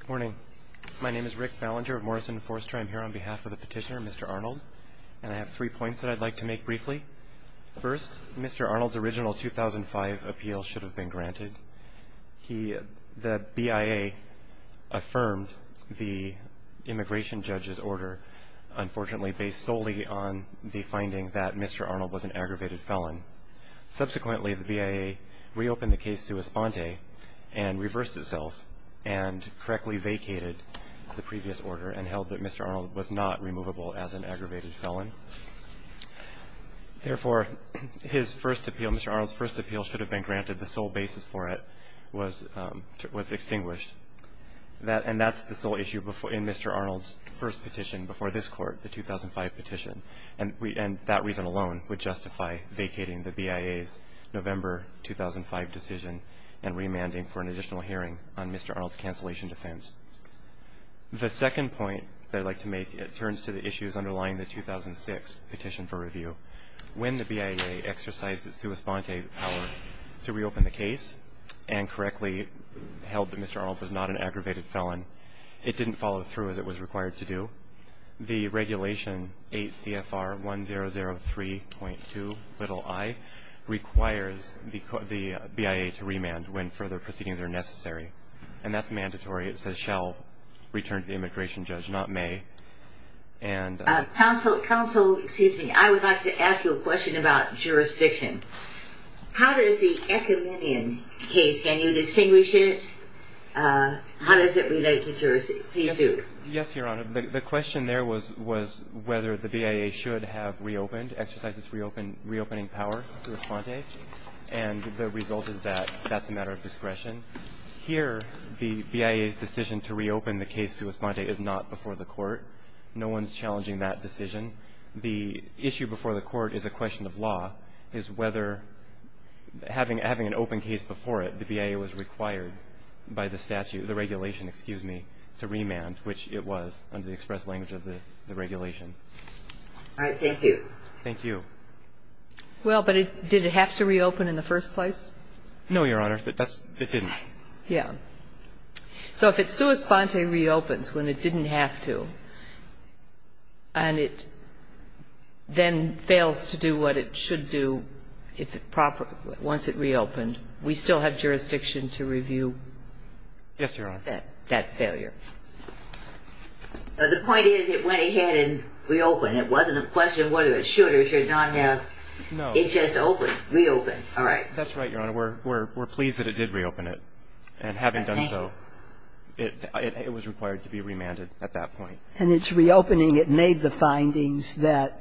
Good morning. My name is Rick Ballinger of Morrison and Forster. I'm here on behalf of the petitioner, Mr. Arnold, and I have three points that I'd like to make briefly. First, Mr. Arnold's original 2005 appeal should have been granted. The BIA affirmed the immigration judge's order, unfortunately, based solely on the finding that Mr. Arnold was an aggravated felon. Subsequently, the BIA reopened the case sua sponte and reversed itself and correctly vacated the previous order and held that Mr. Arnold was not removable as an aggravated felon. Therefore, his first appeal, Mr. Arnold's first appeal should have been granted. The sole basis for it was extinguished. And that's the sole issue in Mr. Arnold's first petition before this court, the 2005 petition. And that reason alone would justify vacating the BIA's November 2005 decision and remanding for an additional hearing on Mr. Arnold's cancellation defense. The second point that I'd like to make, it turns to the issues underlying the 2006 petition for review. When the BIA exercised its sua sponte power to reopen the case and correctly held that Mr. Arnold was not an aggravated felon, it didn't follow through as it was required to do. The regulation 8 CFR 1003.2 little i requires the BIA to remand when further proceedings are necessary. And that's mandatory. It says shall return to the immigration judge, not may. And counsel, counsel, excuse me, I would like to ask you a question about jurisdiction. How does the case, can you distinguish it? How does it relate to jurisdiction? Yes, Your Honor. The question there was whether the BIA should have reopened, exercised its reopening power sua sponte. And the result is that that's a matter of discretion. Here, the BIA's decision to reopen the case sua sponte is not before the court. No one's challenging that decision. The issue before the court is a question of law, is whether having an open case before it, the BIA was required by the statute, the regulation, excuse me, to remand, which it was under the express language of the regulation. All right. Thank you. Thank you. Well, but did it have to reopen in the first place? No, Your Honor. It didn't. Yeah. So if it sua sponte reopens when it didn't have to, and it then fails to do what it should do if it proper, once it reopened, we still have jurisdiction to review that failure. Yes, Your Honor. The point is it went ahead and reopened. It wasn't a question of whether it should or should not have. No. It just opened, reopened. All right. That's right, Your Honor. We're pleased that it did reopen it. And having done so, it was required to be remanded at that point. And its reopening, it made the findings that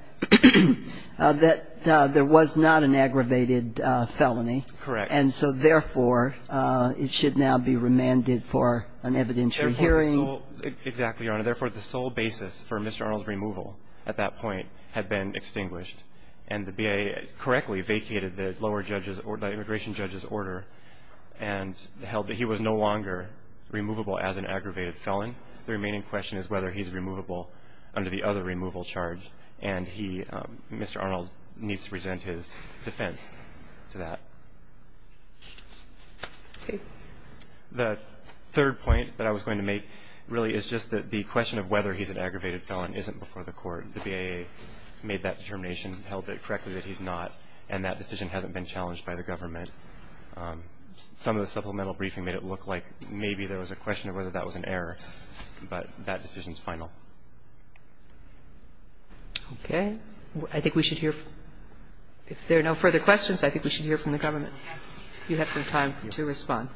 there was not an aggravated felony. Correct. And so therefore, it should now be remanded for an evidentiary hearing. Exactly, Your Honor. Therefore, the sole basis for Mr. Arnold's removal at that point had been extinguished, and the BIA correctly vacated the lower judge's or the immigration judge's order and held that he was no longer removable as an aggravated felon. The remaining question is whether he's removable under the other removal charge, and Mr. Arnold needs to present his defense to that. The third point that I was going to make really is just that the question of whether he's an aggravated felon isn't before the court. The BIA made that determination, held it correctly that he's not, and that decision hasn't been challenged by the government. Some of the supplemental briefing made it look like maybe there was a question of whether that was an error, but that decision is final. Okay. I think we should hear if there are no further questions, I think we should hear from the government. You have some time to respond.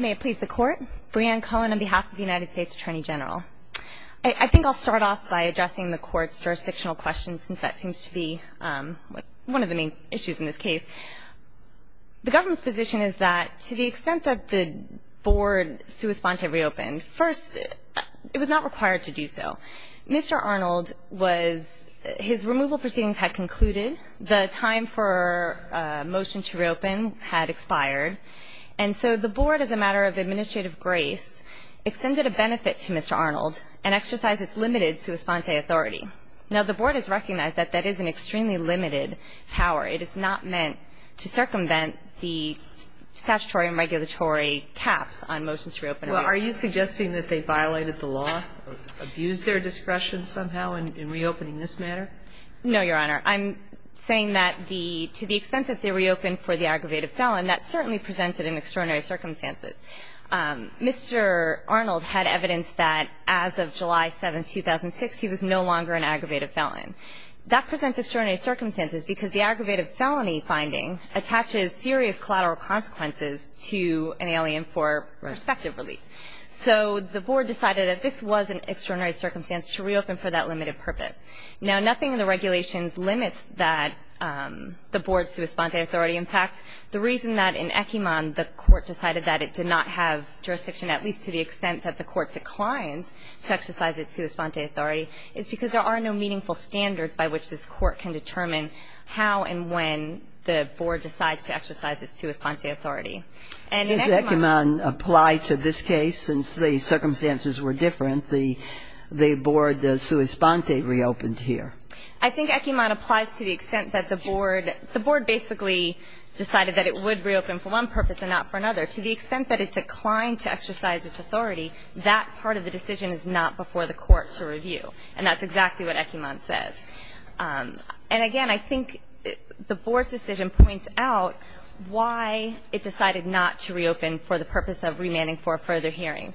May it please the Court. Breanne Cohen on behalf of the United States Attorney General. I think I'll start off by addressing the Court's jurisdictional questions, since that seems to be one of the main issues in this case. The government's position is that to the extent that the Board's suespontive responsibility First, it was not required to do so. Mr. Arnold was his removal proceedings had concluded. The time for a motion to reopen had expired, and so the Board as a matter of administrative grace extended a benefit to Mr. Arnold and exercised its limited suesponte authority. Now, the Board has recognized that that is an extremely limited power. It is not meant to circumvent the statutory and regulatory caps on motions to reopen. Well, are you suggesting that they violated the law, abused their discretion somehow in reopening this matter? No, Your Honor. I'm saying that the to the extent that they reopened for the aggravated felon, that certainly presented an extraordinary circumstances. Mr. Arnold had evidence that as of July 7, 2006, he was no longer an aggravated felon. That presents extraordinary circumstances because the aggravated felony finding attaches serious collateral consequences to an alien for prospective relief. So the Board decided that this was an extraordinary circumstance to reopen for that limited purpose. Now, nothing in the regulations limits that the Board's suesponte authority. In fact, the reason that in Ekiman the Court decided that it did not have jurisdiction, at least to the extent that the Court declines to exercise its suesponte authority, is because there are no meaningful standards by which this Court can determine how and when the Board decides to exercise its suesponte authority. And in Ekiman ---- Does Ekiman apply to this case? Since the circumstances were different, the Board suesponte reopened here. I think Ekiman applies to the extent that the Board ---- the Board basically decided that it would reopen for one purpose and not for another. To the extent that it declined to exercise its authority, that part of the decision is not before the Court to review. And that's exactly what Ekiman says. And again, I think the Board's decision points out why it decided not to reopen for the purpose of remanding for a further hearing.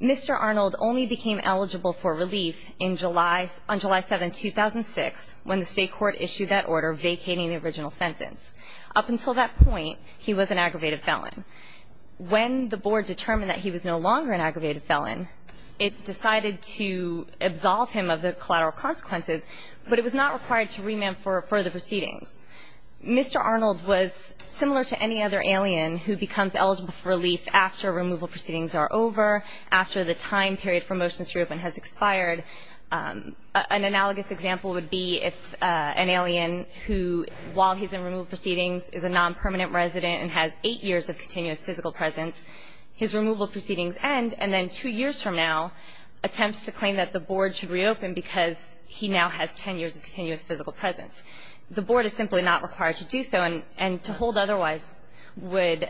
Mr. Arnold only became eligible for relief in July ---- on July 7, 2006, when the State court issued that order vacating the original sentence. Up until that point, he was an aggravated felon. When the Board determined that he was no longer an aggravated felon, it decided to absolve him of the collateral consequences, but it was not required to remand for further proceedings. Mr. Arnold was similar to any other alien who becomes eligible for relief after removal proceedings are over, after the time period for motions to reopen has expired. An analogous example would be if an alien who, while he's in removal proceedings, is a non-permanent resident and has eight years of continuous physical presence. His removal proceedings end, and then two years from now, attempts to claim that the Board should reopen because he now has 10 years of continuous physical presence. The Board is simply not required to do so, and to hold otherwise would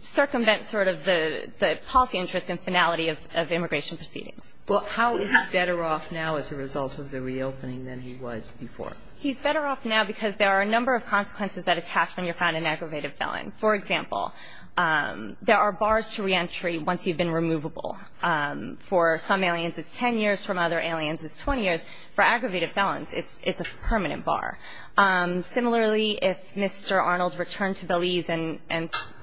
circumvent sort of the policy interest and finality of immigration proceedings. Well, how is he better off now as a result of the reopening than he was before? He's better off now because there are a number of consequences that attach when you're found an aggravated felon. For example, there are bars to reentry once you've been removable. For some aliens, it's 10 years. For other aliens, it's 20 years. For aggravated felons, it's a permanent bar. Similarly, if Mr. Arnold returned to Belize and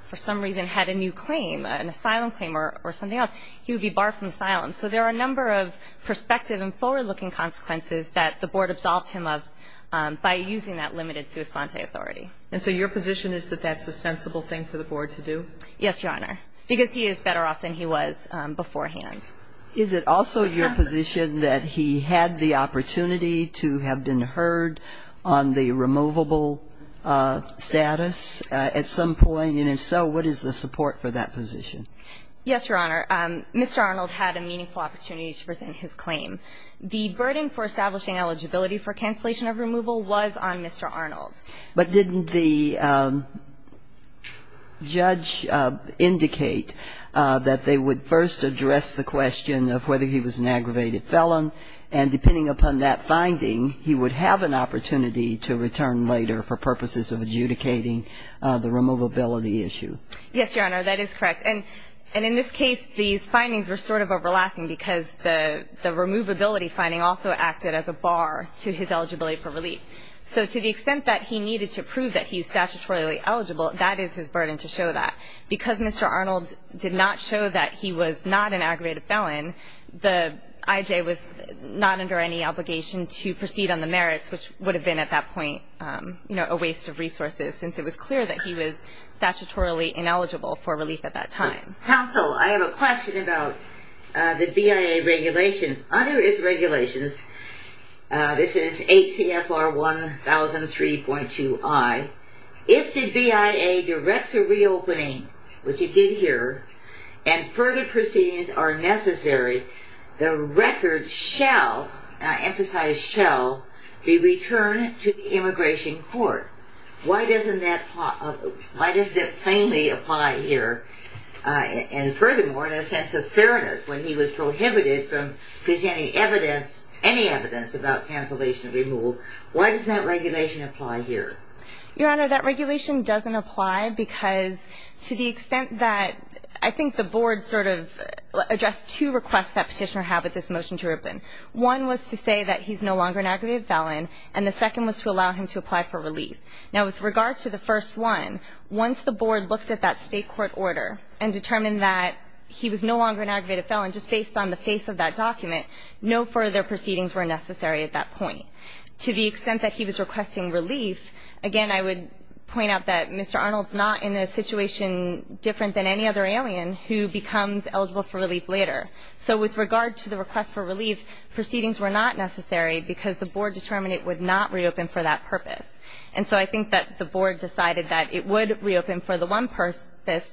for some reason had a new claim, an asylum claim or something else, he would be barred from asylum. So there are a number of prospective and forward-looking consequences that the Board absolved him of by using that limited sua sponte authority. And so your position is that that's a sensible thing for the Board to do? Yes, Your Honor, because he is better off than he was beforehand. Is it also your position that he had the opportunity to have been heard on the removable status at some point? And if so, what is the support for that position? Yes, Your Honor. Mr. Arnold had a meaningful opportunity to present his claim. The burden for establishing eligibility for cancellation of removal was on Mr. Arnold. But didn't the judge indicate that they would first address the question of whether he was an aggravated felon, and depending upon that finding, he would have an opportunity to return later for purposes of adjudicating the removability issue? Yes, Your Honor, that is correct. And in this case, these findings were sort of overlapping because the removability finding also acted as a bar to his eligibility for relief. So to the extent that he needed to prove that he is statutorily eligible, that is his burden to show that. Because Mr. Arnold did not show that he was not an aggravated felon, the IJ was not under any obligation to proceed on the merits, which would have been at that point a waste of resources, since it was clear that he was statutorily ineligible for relief at that time. Counsel, I have a question about the BIA regulations. Under its regulations, this is ACFR 1003.2i, if the BIA directs a reopening, which it did here, and further proceedings are necessary, the record shall, I emphasize shall, be returned to the immigration court. Why doesn't that plainly apply here? And furthermore, in a sense of fairness, when he was prohibited from presenting any evidence about cancellation of removal, why doesn't that regulation apply here? Your Honor, that regulation doesn't apply because to the extent that I think the Board sort of addressed two requests that Petitioner had with this motion to reopen. One was to say that he's no longer an aggravated felon, and the second was to allow him to apply for relief. Now, with regard to the first one, once the Board looked at that state court order and determined that he was no longer an aggravated felon, just based on the face of that document, no further proceedings were necessary at that point. To the extent that he was requesting relief, again I would point out that Mr. Arnold's not in a situation different than any other alien who becomes eligible for relief later. So with regard to the request for relief, proceedings were not necessary because the Board determined it would not reopen for that purpose. And so I think that the Board decided that it would reopen for the one purpose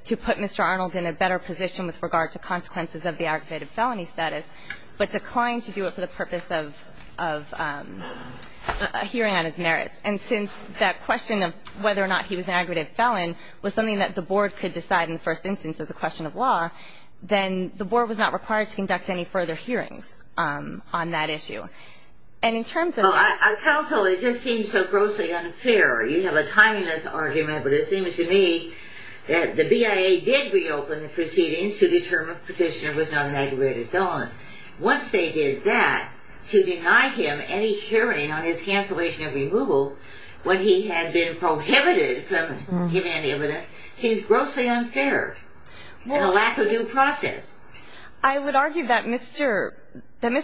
to put Mr. Arnold in a better position with regard to consequences of the aggravated felony status, but declined to do it for the purpose of hearing on his merits. And since that question of whether or not he was an aggravated felon was something that the Board could decide in the first instance as a question of law, then the Board was not required to conduct any further hearings on that issue. And in terms of that ---- Well, counsel, it just seems so grossly unfair. You have a timeless argument, but it seems to me that the BIA did reopen the proceedings to determine if Petitioner was not an aggravated felon. Once they did that, to deny him any hearing on his cancellation of removal when he had been prohibited from giving any evidence seems grossly unfair and a lack of due process. I would argue that Mr.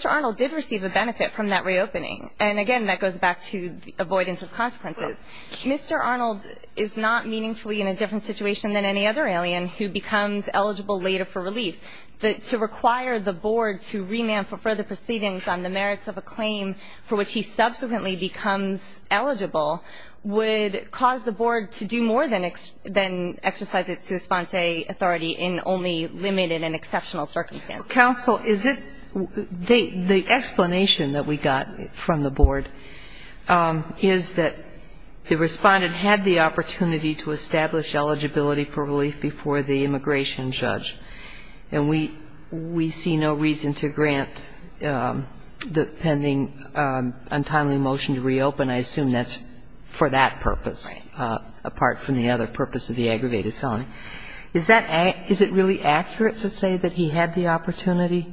Arnold did receive a benefit from that reopening. And again, that goes back to avoidance of consequences. Mr. Arnold is not meaningfully in a different situation than any other alien who becomes eligible later for relief. To require the Board to remand for further proceedings on the merits of a claim for which he subsequently becomes eligible would cause the Board to do more than exercise its sui sponse authority in only limited and exceptional circumstances. Counsel, is it ---- the explanation that we got from the Board is that the Respondent had the opportunity to establish eligibility for relief before the immigration judge, and we see no reason to grant the pending untimely motion to reopen. I assume that's for that purpose, apart from the other purpose of the aggravated felony. Is that ---- is it really accurate to say that he had the opportunity?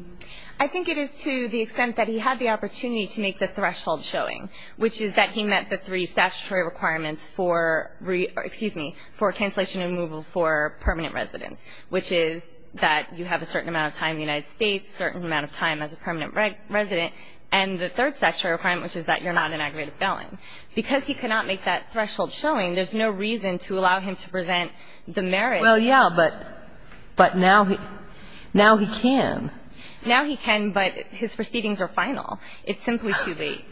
I think it is to the extent that he had the opportunity to make the threshold showing, which is that he met the three statutory requirements for ---- excuse me, for cancellation and removal for permanent residence, which is that you have a certain amount of time in the United States, certain amount of time as a permanent resident, and the third statutory requirement, which is that you're not an aggravated felon. Because he could not make that threshold showing, there's no reason to allow him to present the merits. Well, yeah, but now he can. Now he can, but his proceedings are final. It's simply too late.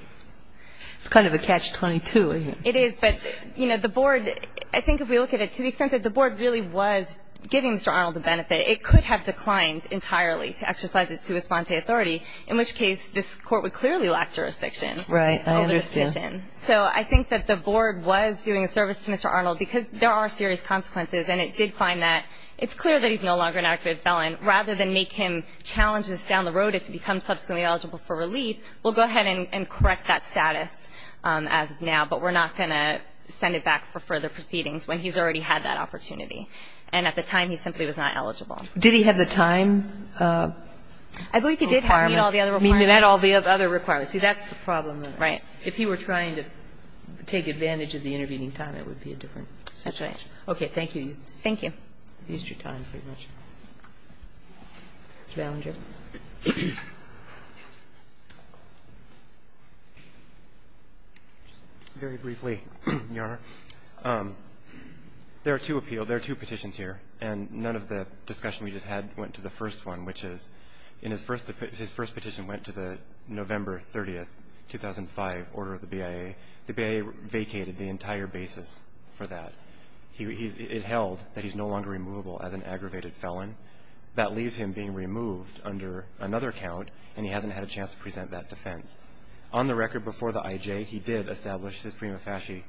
It's kind of a catch-22, isn't it? It is. But, you know, the Board, I think if we look at it to the extent that the Board really was giving Mr. Arnold the benefit, it could have declined entirely to exercise its sui sponse authority, in which case this Court would clearly lack jurisdiction over the decision. Right. I understand. So I think that the Board was doing a service to Mr. Arnold because there are serious consequences, and it did find that it's clear that he's no longer an aggravated felon. Rather than make him challenges down the road if he becomes subsequently eligible for relief, we'll go ahead and correct that status as of now, but we're not going to send it back for further proceedings when he's already had that opportunity. And at the time, he simply was not eligible. Did he have the time requirements? I believe he did have all the other requirements. He met all the other requirements. See, that's the problem. If he were trying to take advantage of the intervening time, it would be a different situation. That's right. Okay. Thank you. Thank you. You've used your time pretty much. Mr. Ballinger. Very briefly, Your Honor. There are two appeals, there are two petitions here, and none of the discussion we just had went to the first one, which is in his first petition went to the November 30th, 2005, order of the BIA. The BIA vacated the entire basis for that. It held that he's no longer removable as an aggravated felon. That leaves him being removed under another count, and he hasn't had a chance to present that defense. On the record, before the IJ, he did establish his prima facie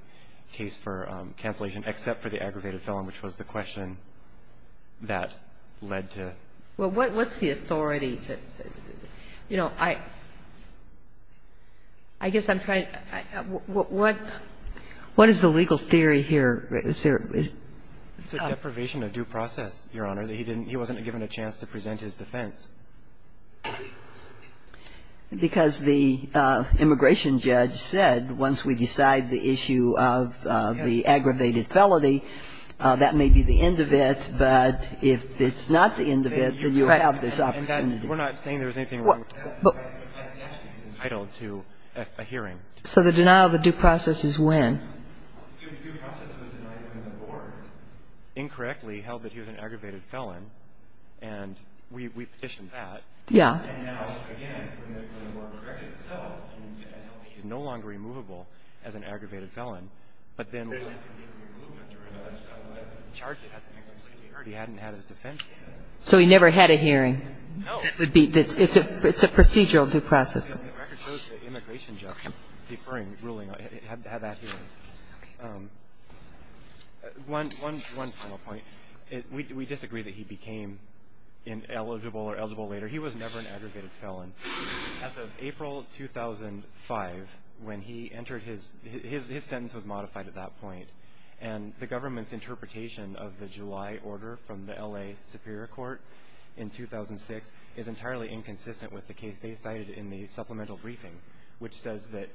case for cancellation, except for the aggravated felon, which was the question that led to. Well, what's the authority? You know, I guess I'm trying to, what? What is the legal theory here? Is there? It's a deprivation of due process, Your Honor. He wasn't given a chance to present his defense. Because the immigration judge said once we decide the issue of the aggravated felony, that may be the end of it, but if it's not the end of it, then you'll have this opportunity. We're not saying there's anything wrong with that. But the question is entitled to a hearing. So the denial of the due process is when? The due process was denied when the board incorrectly held that he was an aggravated felon, and we petitioned that. Yeah. And now, again, when the board corrected itself and said he's no longer removable as an aggravated felon. But then when we charged him, he hadn't had his defense. So he never had a hearing. No. It's a procedural depressive. The record shows the immigration judge deferring ruling, had that hearing. One final point. We disagree that he became ineligible or eligible later. He was never an aggravated felon. As of April 2005, when he entered his sentence was modified at that point. And the government's interpretation of the July order from the L.A. Superior Court in 2006 is entirely inconsistent with the case they cited in the supplemental briefing, which says that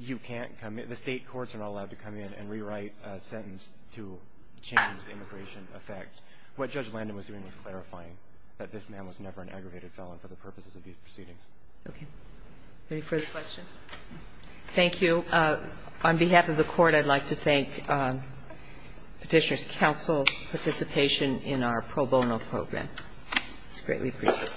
you can't come in, the state courts are not allowed to come in and rewrite a sentence to change immigration effects. What Judge Landon was doing was clarifying that this man was never an Okay. Any further questions? Thank you. On behalf of the court, I'd like to thank Petitioner's Council's participation in our pro bono program. It's greatly appreciated.